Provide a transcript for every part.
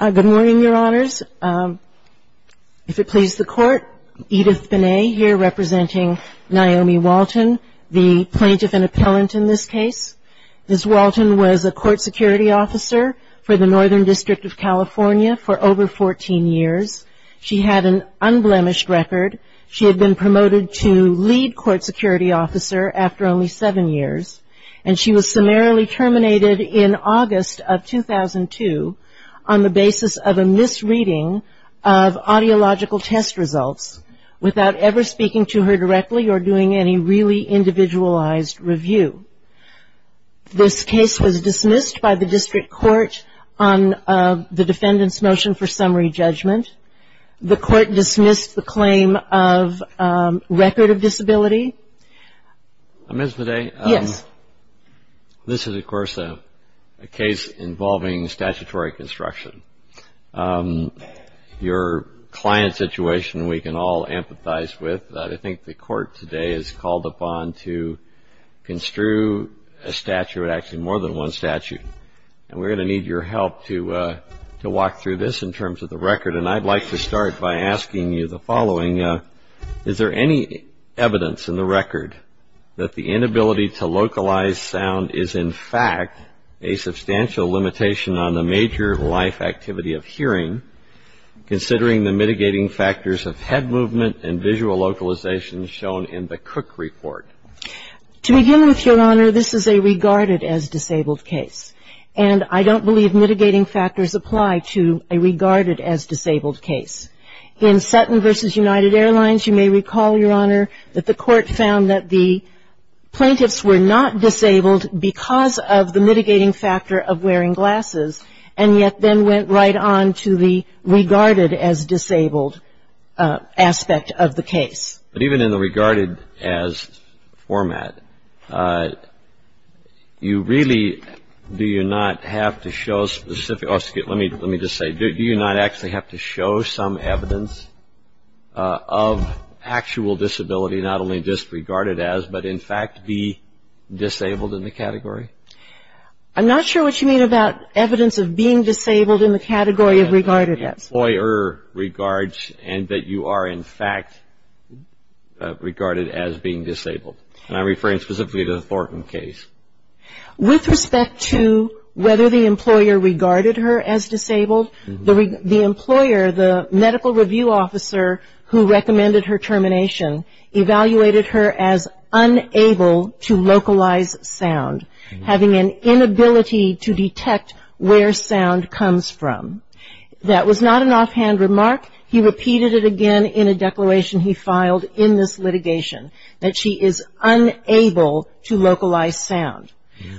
Good morning, Your Honors. If it pleases the Court, Edith Binet here representing Naomi Walton, the plaintiff and appellant in this case. Ms. Walton was a court security officer for the Northern District of California for over 14 years. She had an unblemished record. She had been promoted to lead court security officer after only seven years, and she was summarily terminated in August of 2002 on the basis of a misreading of audiological test results without ever speaking to her directly or doing any really individualized review. This case was dismissed by the district court on the defendant's motion for summary judgment. The court dismissed the claim of record of disability. Ms. Binet, this is, of course, a case involving statutory construction. Your client situation we can all empathize with. I think the court today is called upon to construe a statute, actually more than one statute, and we're going to need your help to walk through this in terms of the record. And I'd like to start by asking you the following. Is there any evidence in the record that the inability to localize sound is, in fact, a substantial limitation on the major life activity of hearing, considering the mitigating factors of head movement and visual localization shown in the Cook report? To begin with, Your Honor, this is a regarded as disabled case, and I don't believe mitigating factors apply to a regarded as disabled case. In Sutton v. United Airlines, you may recall, Your Honor, that the court found that the plaintiffs were not disabled because of the mitigating factor of wearing glasses, and yet then went right on to the regarded as disabled aspect of the case. But even in the regarded as format, you really, do you not have to show specific, let me just say, do you not actually have to show some evidence of actual disability, not only just regarded as, but in fact be disabled in the category? I'm not sure what you mean about evidence of being disabled in the category of regarded as. Employer regards and that you are, in fact, regarded as being disabled, and I'm referring specifically to the Thornton case. With respect to whether the employer regarded her as disabled, the employer, the medical review officer who recommended her termination, evaluated her as unable to localize sound, having an inability to detect where sound comes from. That was not an offhand remark. He repeated it again in a declaration he filed in this litigation, that she is unable to localize sound.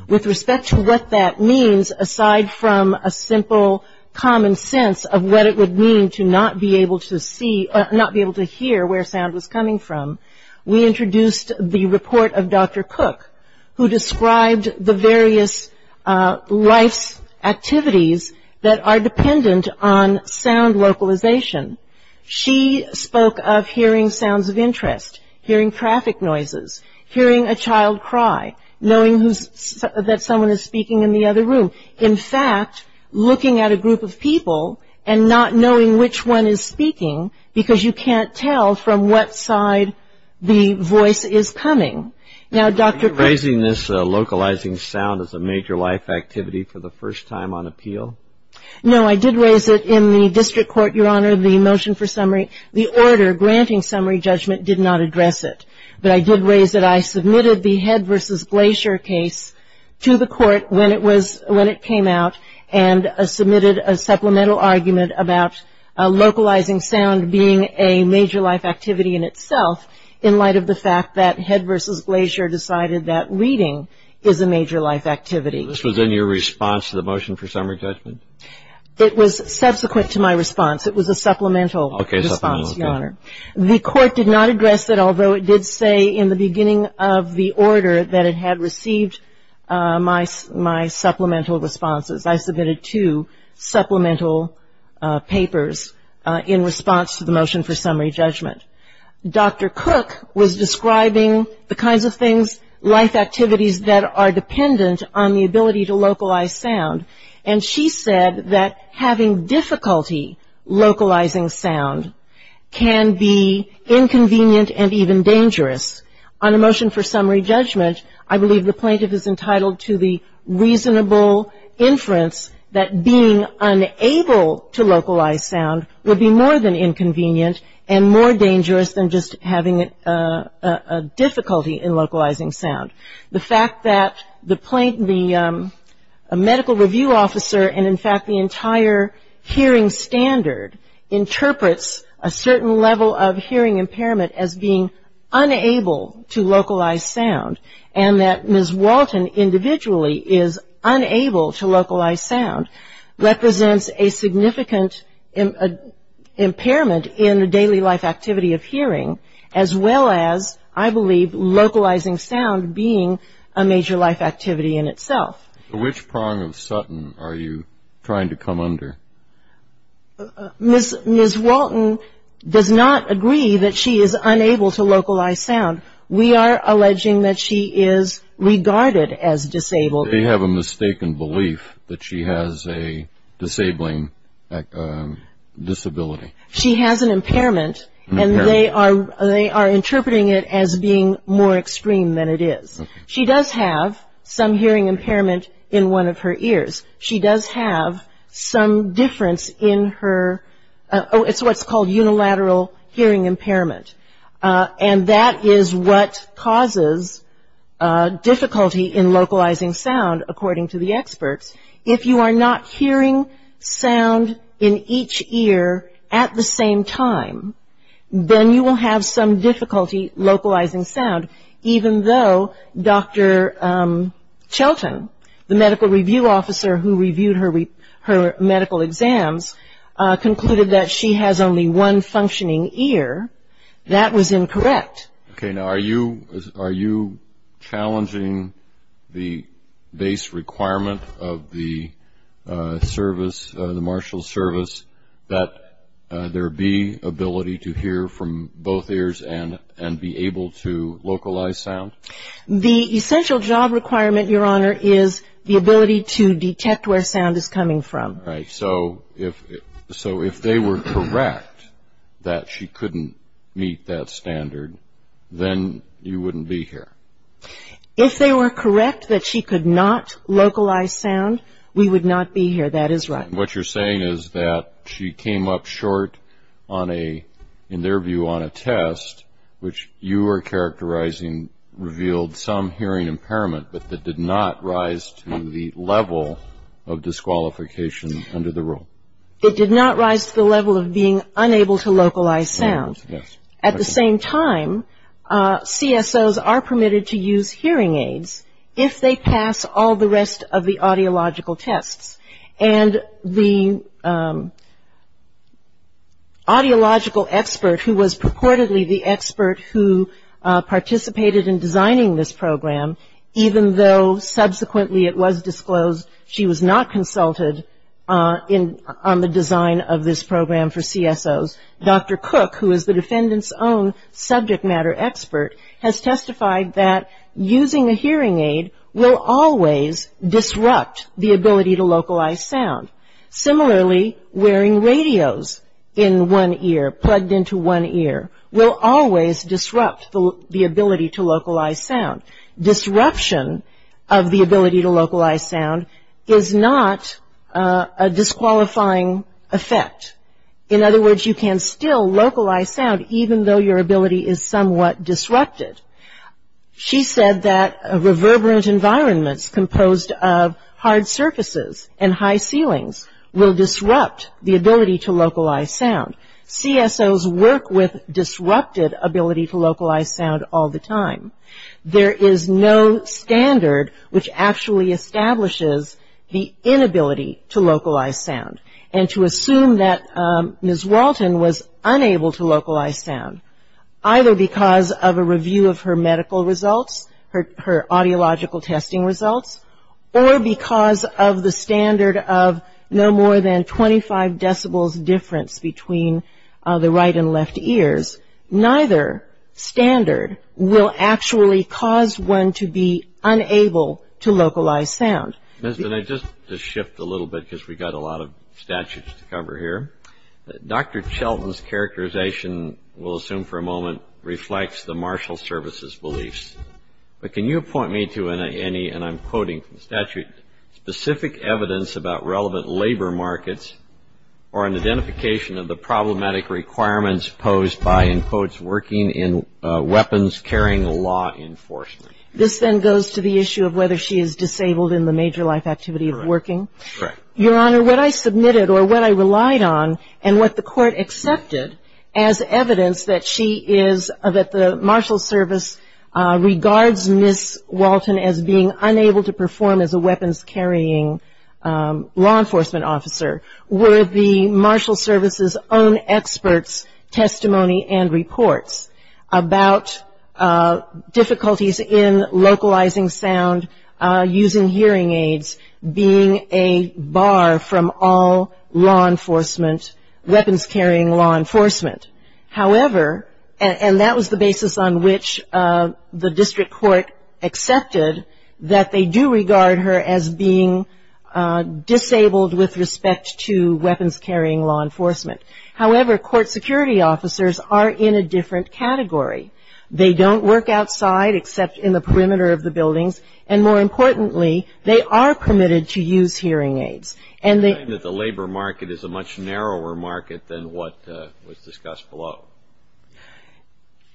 With respect to what that means, aside from a simple common sense of what it would mean to not be able to see, or not be able to hear where sound was coming from, we introduced the report of Dr. Cook, who described the various life's activities that are dependent on sound localization. She spoke of hearing sounds of interest, hearing traffic noises, hearing a child cry, knowing that someone is speaking in the other room. In fact, looking at a group of people and not knowing which one is speaking, because you can't tell from what side the voice is coming. Now, Dr. Are you raising this localizing sound as a major life activity for the first time on appeal? No, I did raise it in the district court, Your Honor, the motion for summary. The order granting summary judgment did not address it, but I did raise that I submitted the Head v. Glacier case to the court when it came out and submitted a supplemental argument about localizing sound being a major life activity in itself, in light of the fact that Head v. Glacier decided that reading is a major life activity. This was in your response to the motion for summary judgment? It was subsequent to my response. It was a supplemental response, Your Honor. The court did not address it, although it did say in the beginning of the order that it had received my supplemental responses. I submitted two supplemental papers in response to the motion for summary judgment. Dr. Cook was describing the kinds of things, life activities, that are dependent on the ability to localize sound, and she said that having difficulty localizing sound can be inconvenient and even dangerous. On the motion for summary judgment, I believe the plaintiff is entitled to the reasonable inference that being unable to localize sound would be more than inconvenient and more dangerous than just having a difficulty in localizing sound. The fact that the medical review officer and, in fact, the entire hearing standard interprets a certain level of hearing impairment as being unable to localize sound and that Ms. Walton individually is unable to localize sound represents a significant impairment in the daily life activity of hearing, as well as, I believe, localizing sound being a major life activity in itself. Which prong of Sutton are you trying to come under? Ms. Walton does not agree that she is unable to localize sound. We are alleging that she is regarded as disabled. They have a mistaken belief that she has a disabling disability. She has an impairment, and they are interpreting it as being more extreme than it is. She does have some hearing impairment in one of her ears. She does have some difference in her, it's what's called unilateral hearing impairment, and that is what causes difficulty in localizing sound, according to the experts. If you are not hearing sound in each ear at the same time, then you will have some difficulty localizing sound, even though Dr. Chilton, the medical review officer who reviewed her medical exams, concluded that she has only one functioning ear. That was incorrect. Okay. Now, are you challenging the base requirement of the service, the marshal's service, that there be ability to hear from both ears and be able to localize sound? The essential job requirement, Your Honor, is the ability to detect where sound is coming from. Right. So if they were correct that she couldn't meet that standard, then you wouldn't be here. If they were correct that she could not localize sound, we would not be here. That is right. What you're saying is that she came up short on a, in their view, on a test, which you are characterizing revealed some hearing impairment, but that did not rise to the level of disqualification under the rule. It did not rise to the level of being unable to localize sound. Yes. At the same time, CSOs are permitted to use hearing aids if they pass all the rest of the audiological tests. And the audiological expert who was purportedly the expert who participated in designing this program, even though subsequently it was disclosed she was not consulted on the design of this program for CSOs, Dr. Cook, who is the defendant's own subject matter expert, has testified that using a hearing aid will always disrupt the ability to localize sound. Similarly, wearing radios in one ear, plugged into one ear, will always disrupt the ability to localize sound. Disruption of the ability to localize sound is not a disqualifying effect. In other words, you can still localize sound even though your ability is somewhat disrupted. She said that reverberant environments composed of hard surfaces and high ceilings will disrupt the ability to localize sound. CSOs work with disrupted ability to localize sound all the time. There is no standard which actually establishes the inability to localize sound. And to assume that Ms. Walton was unable to localize sound, either because of a review of her medical results, her audiological testing results, or because of the standard of no more than 25 decibels difference between the right and left ears, neither standard will actually cause one to be unable to localize sound. Mr. Knight, just to shift a little bit because we've got a lot of statutes to cover here, Dr. Chilton's characterization, we'll assume for a moment, reflects the Marshal Service's beliefs. But can you point me to any, and I'm quoting from the statute, specific evidence about relevant labor markets or an identification of the problematic requirements posed by, in quotes, working in weapons-carrying law enforcement? This then goes to the issue of whether she is disabled in the major life activity of working. Correct. Your Honor, what I submitted or what I relied on and what the court accepted as evidence that she is, that the Marshal Service regards Ms. Walton as being unable to perform as a weapons-carrying law enforcement officer, were the Marshal Service's own experts' testimony and reports about difficulties in localizing sound using hearing aids being a bar from all law enforcement, weapons-carrying law enforcement. However, and that was the basis on which the district court accepted that they do regard her as being disabled with respect to weapons-carrying law enforcement. However, court security officers are in a different category. They don't work outside except in the perimeter of the buildings, and more importantly, they are permitted to use hearing aids. Are you saying that the labor market is a much narrower market than what was discussed below?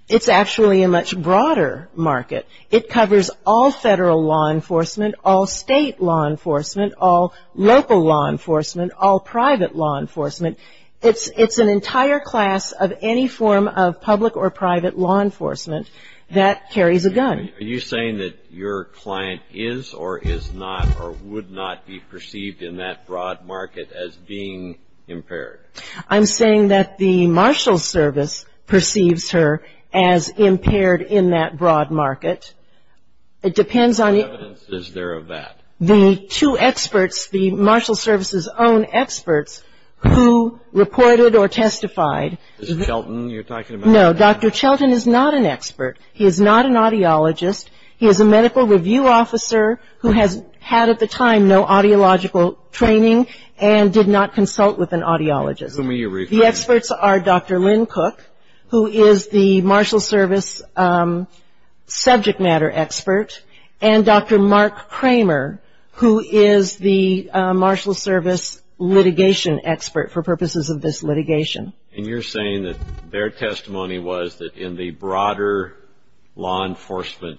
It's actually a much broader market. It covers all federal law enforcement, all state law enforcement, all local law enforcement, all private law enforcement. It's an entire class of any form of public or private law enforcement that carries a gun. Are you saying that your client is or is not or would not be perceived in that broad market as being impaired? I'm saying that the Marshal Service perceives her as impaired in that broad market. It depends on you. What evidence is there of that? The two experts, the Marshal Service's own experts who reported or testified. Is it Chelton you're talking about? No. Dr. Chelton is not an expert. He is not an audiologist. He is a medical review officer who has had at the time no audiological training and did not consult with an audiologist. Who are you referring to? The experts are Dr. Lynn Cook, who is the Marshal Service subject matter expert, and Dr. Mark Kramer, who is the Marshal Service litigation expert for purposes of this litigation. And you're saying that their testimony was that in the broader law enforcement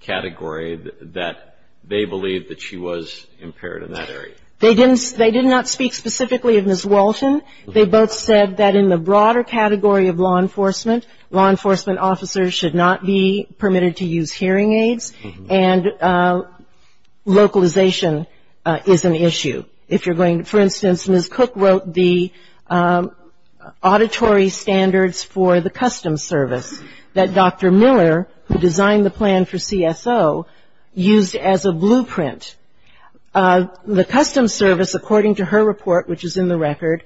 category that they believed that she was impaired in that area. They did not speak specifically of Ms. Walton. They both said that in the broader category of law enforcement, law enforcement officers should not be permitted to use hearing aids, and localization is an issue. For instance, Ms. Cook wrote the auditory standards for the Customs Service that Dr. Miller, who designed the plan for CSO, used as a blueprint. The Customs Service, according to her report, which is in the record,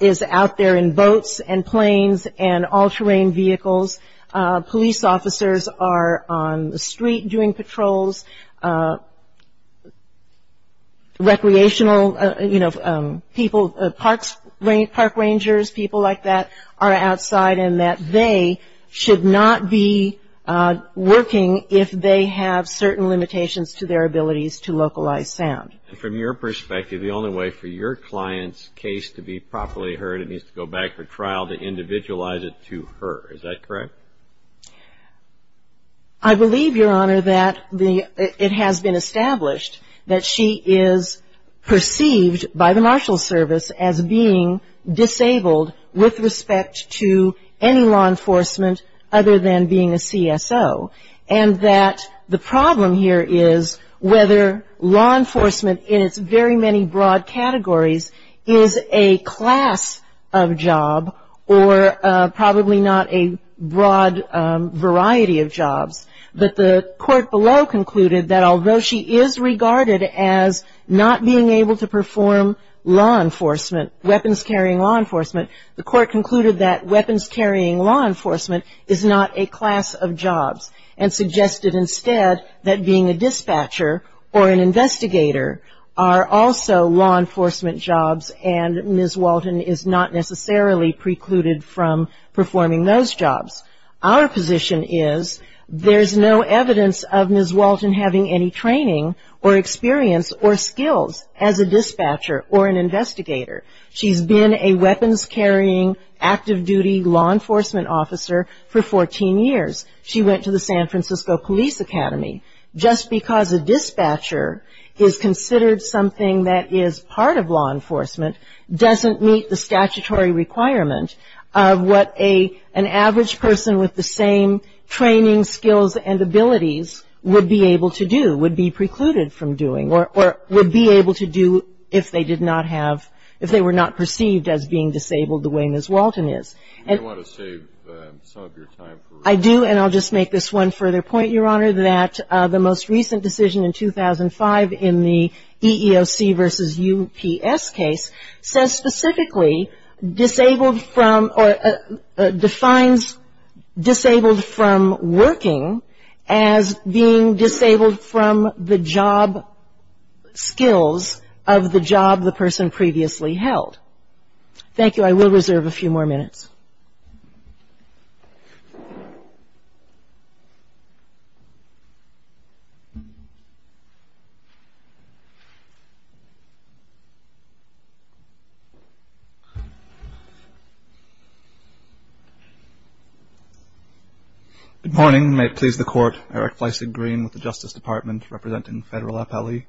is out there in boats and planes and all-terrain vehicles. Police officers are on the street doing patrols. Recreational, you know, people, park rangers, people like that, are outside and that they should not be working if they have certain limitations to their abilities to localize sound. And from your perspective, the only way for your client's case to be properly heard, it needs to go back for trial to individualize it to her. Is that correct? I believe, Your Honor, that it has been established that she is perceived by the Marshals Service as being disabled with respect to any law enforcement other than being a CSO, and that the problem here is whether law enforcement in its very many broad categories is a class of job or probably not a broad variety of jobs. But the court below concluded that although she is regarded as not being able to perform law enforcement, weapons-carrying law enforcement, the court concluded that weapons-carrying law enforcement is not a class of jobs and suggested instead that being a dispatcher or an investigator are also law enforcement jobs and Ms. Walton is not necessarily precluded from performing those jobs. Our position is there's no evidence of Ms. Walton having any training or experience or skills as a dispatcher or an investigator. She's been a weapons-carrying, active-duty law enforcement officer for 14 years. She went to the San Francisco Police Academy. Just because a dispatcher is considered something that is part of law enforcement doesn't meet the statutory requirement of what an average person with the same training, skills, and abilities would be able to do, would be precluded from doing, or would be able to do if they did not have, if they were not perceived as being disabled the way Ms. Walton is. Do you want to save some of your time? I do, and I'll just make this one further point, Your Honor, that the most recent decision in 2005 in the EEOC v. UPS case says specifically disabled from or defines disabled from working as being disabled from the job skills of the job the person previously held. Thank you. I will reserve a few more minutes. Good morning. May it please the Court. Eric Fleisig, Green, with the Justice Department, representing Federal Appellee.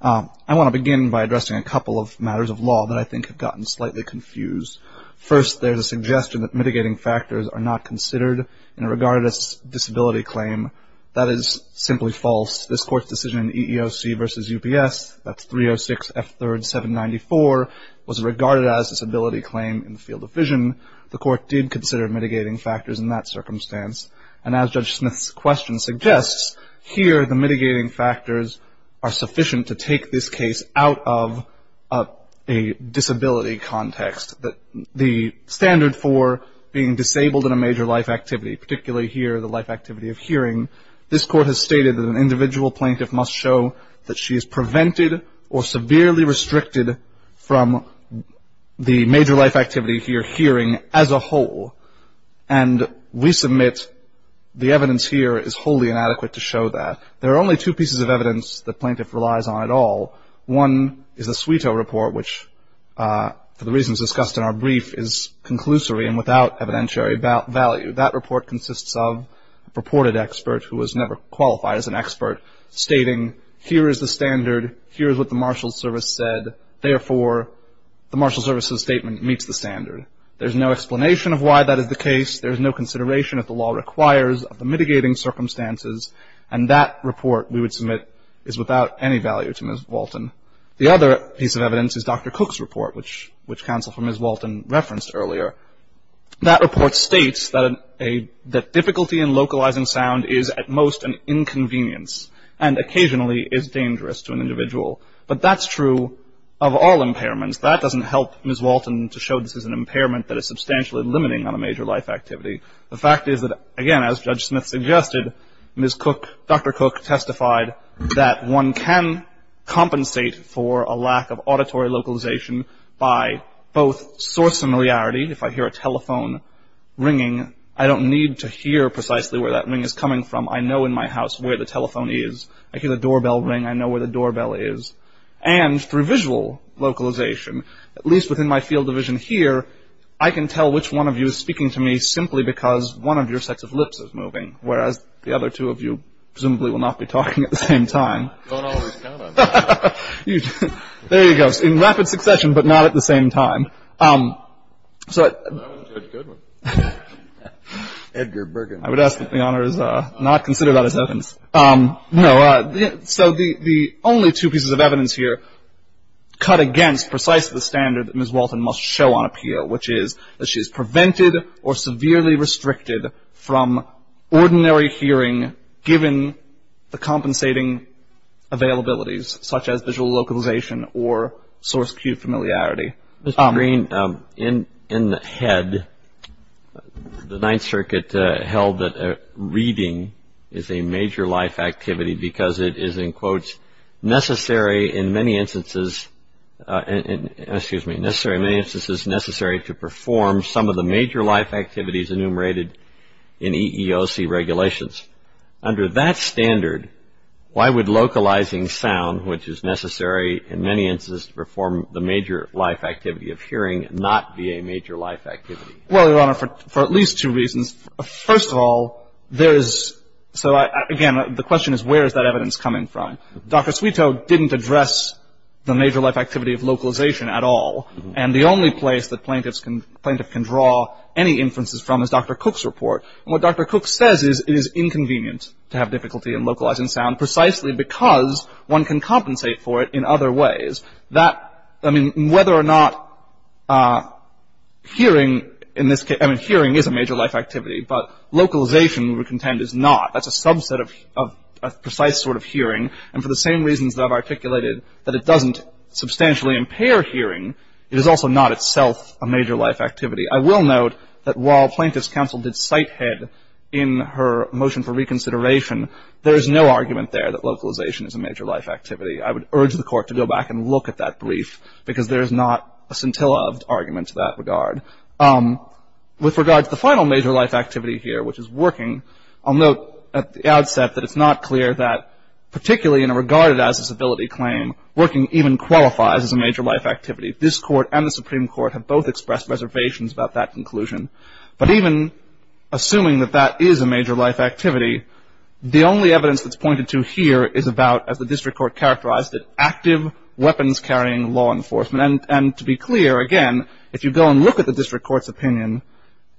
I want to begin by addressing a couple of matters of law that I think have gotten slightly confused. First, there's a suggestion that mitigating factors are not considered in a regarded as disability claim. That is simply false. This Court's decision in EEOC v. UPS, that's 306 F. 3rd. 794, was regarded as a disability claim in the field of vision. The Court did consider mitigating factors in that circumstance. And as Judge Smith's question suggests, here, the mitigating factors are sufficient to take this case out of a disability context. The standard for being disabled in a major life activity, particularly here the life activity of hearing, this Court has stated that an individual plaintiff must show that she is prevented or severely restricted from the major life activity here, hearing, as a whole. And we submit the evidence here is wholly inadequate to show that. There are only two pieces of evidence that plaintiff relies on at all. One is the Sweeto Report, which, for the reasons discussed in our brief, is conclusory and without evidentiary value. That report consists of a purported expert, who was never qualified as an expert, stating here is the standard, here is what the marshal's service said, therefore the marshal's service's statement meets the standard. There's no explanation of why that is the case. There's no consideration that the law requires of the mitigating circumstances. And that report, we would submit, is without any value to Ms. Walton. The other piece of evidence is Dr. Cook's report, which counsel for Ms. Walton referenced earlier. That report states that difficulty in localizing sound is at most an inconvenience and occasionally is dangerous to an individual. But that's true of all impairments. That doesn't help Ms. Walton to show this is an impairment that is substantially limiting on a major life activity. The fact is that, again, as Judge Smith suggested, Dr. Cook testified that one can compensate for a lack of auditory localization by both source familiarity, if I hear a telephone ringing, I don't need to hear precisely where that ring is coming from. I know in my house where the telephone is. I hear the doorbell ring. I know where the doorbell is. And through visual localization, at least within my field of vision here, I can tell which one of you is speaking to me simply because one of your sets of lips is moving, whereas the other two of you presumably will not be talking at the same time. Don't always count on that. There you go. In rapid succession, but not at the same time. That was a good one. I would ask that the honors not consider that as evidence. No. So the only two pieces of evidence here cut against precisely the standard that Ms. Walton must show on appeal, which is that she is prevented or severely restricted from ordinary hearing given the compensating availabilities such as visual localization or source-queued familiarity. Mr. Green, in the head, the Ninth Circuit held that reading is a major life activity because it is, in quotes, necessary in many instances to perform some of the major life activities enumerated in EEOC regulations. Under that standard, why would localizing sound, which is necessary in many instances to perform the major life activity of hearing, not be a major life activity? Well, Your Honor, for at least two reasons. First of all, there is — so, again, the question is where is that evidence coming from? Dr. Sweeto didn't address the major life activity of localization at all, and the only place that plaintiffs can draw any inferences from is Dr. Cook's report. And what Dr. Cook says is it is inconvenient to have difficulty in localizing sound precisely because one can compensate for it in other ways. That — I mean, whether or not hearing in this case — I mean, hearing is a major life activity, but localization, we contend, is not. That's a subset of precise sort of hearing. And for the same reasons that I've articulated, that it doesn't substantially impair hearing, it is also not itself a major life activity. I will note that while Plaintiff's counsel did sighthead in her motion for reconsideration, there is no argument there that localization is a major life activity. I would urge the Court to go back and look at that brief because there is not a scintilla of argument to that regard. With regard to the final major life activity here, which is working, I'll note at the outset that it's not clear that, particularly in a regarded as a civility claim, working even qualifies as a major life activity. But even assuming that that is a major life activity, the only evidence that's pointed to here is about, as the district court characterized it, active weapons-carrying law enforcement. And to be clear, again, if you go and look at the district court's opinion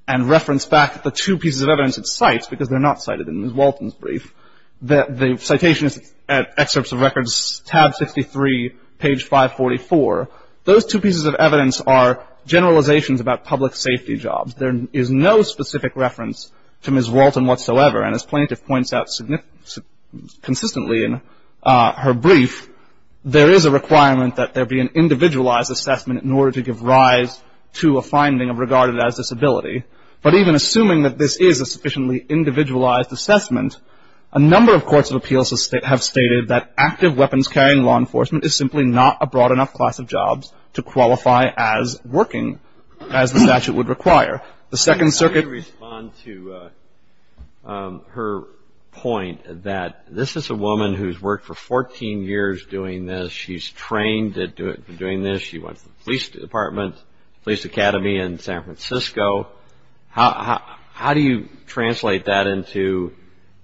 and reference back the two pieces of evidence it cites, because they're not cited in Ms. Walton's brief, the citation is at Excerpts of Records, tab 63, page 544. Those two pieces of evidence are generalizations about public safety jobs. There is no specific reference to Ms. Walton whatsoever. And as plaintiff points out consistently in her brief, there is a requirement that there be an individualized assessment in order to give rise to a finding of regarded as disability. But even assuming that this is a sufficiently individualized assessment, a number of courts of appeals have stated that active weapons-carrying law enforcement is simply not a broad enough class of jobs to qualify as working as the statute would require. The Second Circuit- Let me respond to her point that this is a woman who's worked for 14 years doing this. She's trained for doing this. She went to the police department, police academy in San Francisco. How do you translate that into,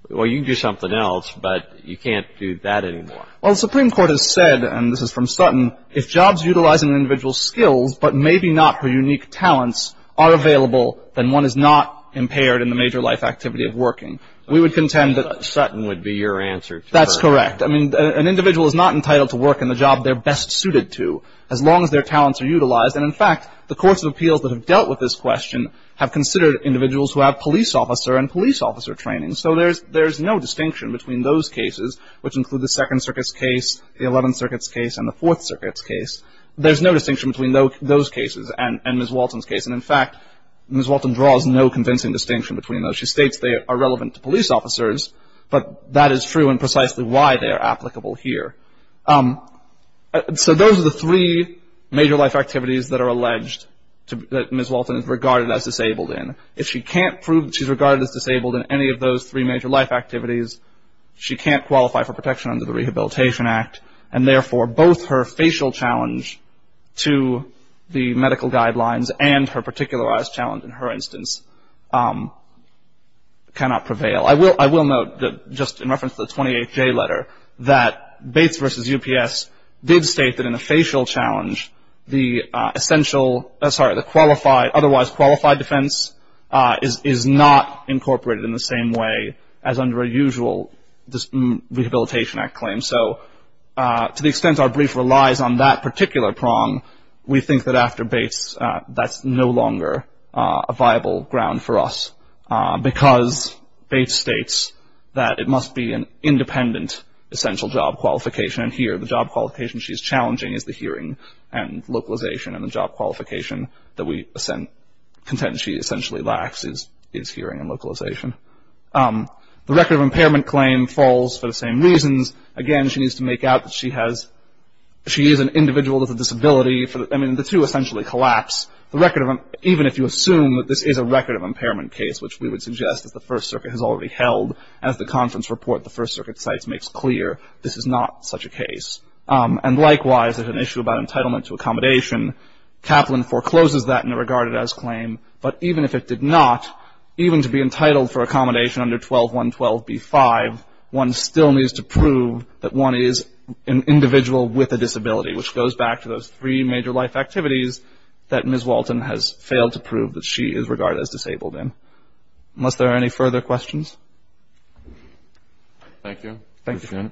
well, you can do something else, but you can't do that anymore? Well, the Supreme Court has said, and this is from Sutton, if jobs utilizing an individual's skills, but maybe not her unique talents, are available, then one is not impaired in the major life activity of working. We would contend that- Sutton would be your answer to that. That's correct. I mean, an individual is not entitled to work in the job they're best suited to, as long as their talents are utilized. And in fact, the courts of appeals that have dealt with this question have considered individuals who have police officer and police officer training. And so there's no distinction between those cases, which include the Second Circuit's case, the Eleventh Circuit's case, and the Fourth Circuit's case. There's no distinction between those cases and Ms. Walton's case. And in fact, Ms. Walton draws no convincing distinction between those. She states they are relevant to police officers, but that is true and precisely why they are applicable here. So those are the three major life activities that are alleged that Ms. Walton is regarded as disabled in. If she can't prove she's regarded as disabled in any of those three major life activities, she can't qualify for protection under the Rehabilitation Act. And therefore, both her facial challenge to the medical guidelines and her particularized challenge in her instance cannot prevail. I will note, just in reference to the 28J letter, that Bates v. UPS did state that in a facial challenge, the otherwise qualified defense is not incorporated in the same way as under a usual Rehabilitation Act claim. So to the extent our brief relies on that particular prong, we think that after Bates that's no longer a viable ground for us, because Bates states that it must be an independent essential job qualification. And here, the job qualification she's challenging is the hearing and localization, and the job qualification that we contend she essentially lacks is hearing and localization. The record of impairment claim falls for the same reasons. Again, she needs to make out that she is an individual with a disability. I mean, the two essentially collapse. Even if you assume that this is a record of impairment case, which we would suggest that the First Circuit has already held, as the conference report the First Circuit cites makes clear, this is not such a case. And likewise, there's an issue about entitlement to accommodation. Kaplan forecloses that in a regarded-as claim. But even if it did not, even to be entitled for accommodation under 12.112b-5, one still needs to prove that one is an individual with a disability, which goes back to those three major life activities that Ms. Walton has failed to prove that she is regarded as disabled in. Unless there are any further questions. Thank you. Thank you, Your Honor.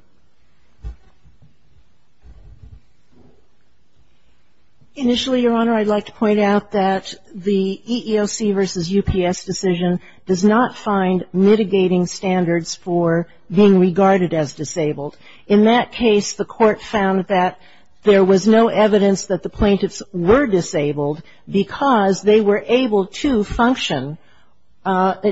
Initially, Your Honor, I'd like to point out that the EEOC versus UPS decision does not find mitigating standards for being regarded as disabled. In that case, the Court found that there was no evidence that the plaintiffs were disabled because they were able to function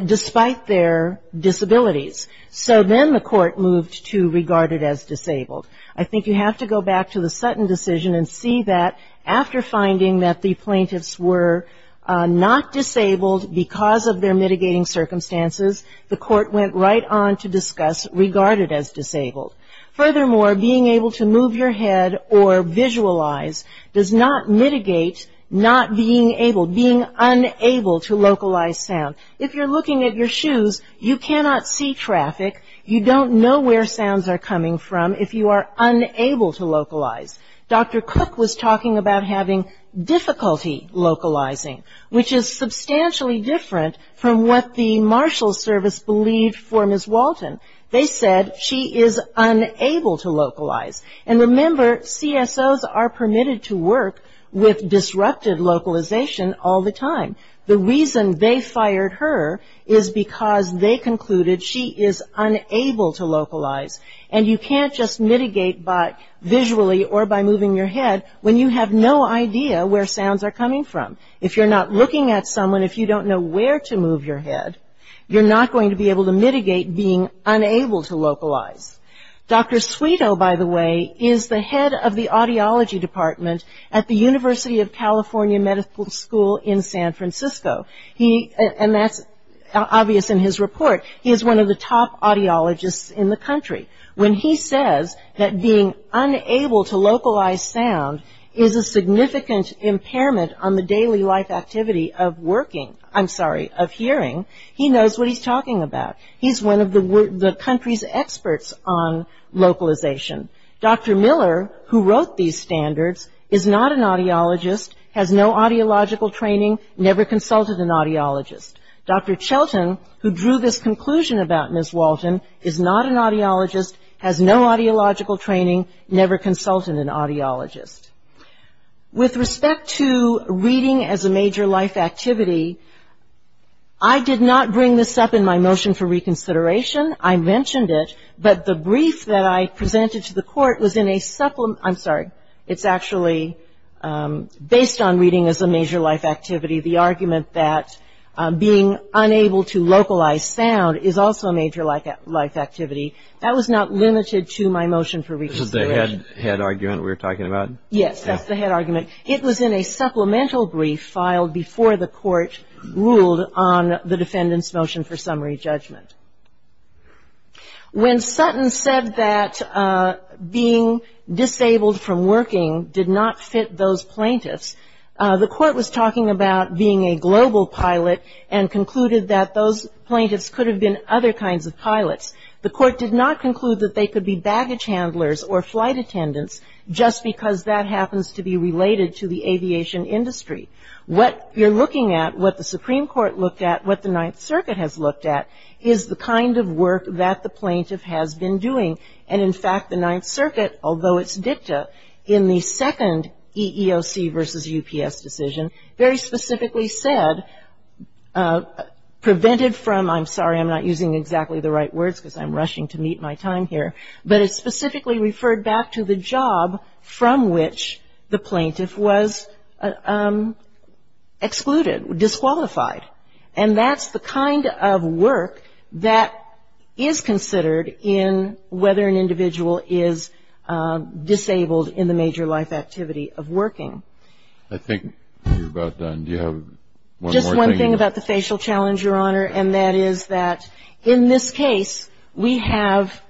despite their disabilities. So then the Court moved to regarded-as disabled. I think you have to go back to the Sutton decision and see that after finding that the plaintiffs were not disabled because of their mitigating circumstances, the Court went right on to discuss regarded-as disabled. Furthermore, being able to move your head or visualize does not mitigate not being able, being unable to localize sound. If you're looking at your shoes, you cannot see traffic. You don't know where sounds are coming from if you are unable to localize. Dr. Cook was talking about having difficulty localizing, which is substantially different from what the marshal service believed for Ms. Walton. They said she is unable to localize. And remember, CSOs are permitted to work with disrupted localization all the time. The reason they fired her is because they concluded she is unable to localize, and you can't just mitigate visually or by moving your head when you have no idea where sounds are coming from. If you're not looking at someone, if you don't know where to move your head, you're not going to be able to mitigate being unable to localize. Dr. Sweeto, by the way, is the head of the audiology department at the University of California Medical School in San Francisco. And that's obvious in his report. He is one of the top audiologists in the country. When he says that being unable to localize sound is a significant impairment on the daily life activity of working, I'm sorry, of hearing, he knows what he's talking about. He's one of the country's experts on localization. Dr. Miller, who wrote these standards, is not an audiologist, has no audiological training, never consulted an audiologist. Dr. Chelton, who drew this conclusion about Ms. Walton, is not an audiologist, has no audiological training, never consulted an audiologist. With respect to reading as a major life activity, I did not bring this up in my motion for reconsideration. I mentioned it, but the brief that I presented to the court was in a supplement, I'm sorry, it's actually based on reading as a major life activity, the argument that being unable to localize sound is also a major life activity. This is the head argument we were talking about? Yes, that's the head argument. It was in a supplemental brief filed before the court ruled on the defendant's motion for summary judgment. When Sutton said that being disabled from working did not fit those plaintiffs, the court was talking about being a global pilot and concluded that those plaintiffs could have been other kinds of pilots. The court did not conclude that they could be baggage handlers or flight attendants just because that happens to be related to the aviation industry. What you're looking at, what the Supreme Court looked at, what the Ninth Circuit has looked at is the kind of work that the plaintiff has been doing. And, in fact, the Ninth Circuit, although it's dicta, in the second EEOC versus UPS decision, very specifically said, prevented from, I'm sorry, I'm not using exactly the right words because I'm rushing to meet my time here, but it specifically referred back to the job from which the plaintiff was excluded, disqualified. And that's the kind of work that is considered in whether an individual is disabled in the major life activity of working. I think we're about done. Do you have one more thing? Just one thing about the facial challenge, Your Honor, and that is that in this case we have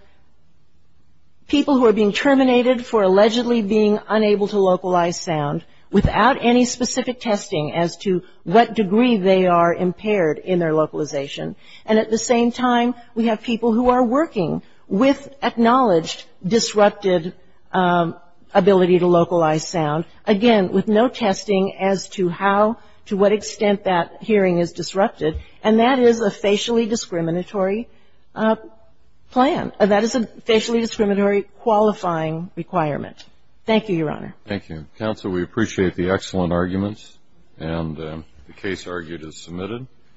people who are being terminated for allegedly being unable to localize sound without any specific testing as to what degree they are impaired in their localization. And, at the same time, we have people who are working with acknowledged disrupted ability to localize sound. Again, with no testing as to how, to what extent that hearing is disrupted. And that is a facially discriminatory plan. That is a facially discriminatory qualifying requirement. Thank you, Your Honor. Thank you. Counsel, we appreciate the excellent arguments, and the case argued is submitted.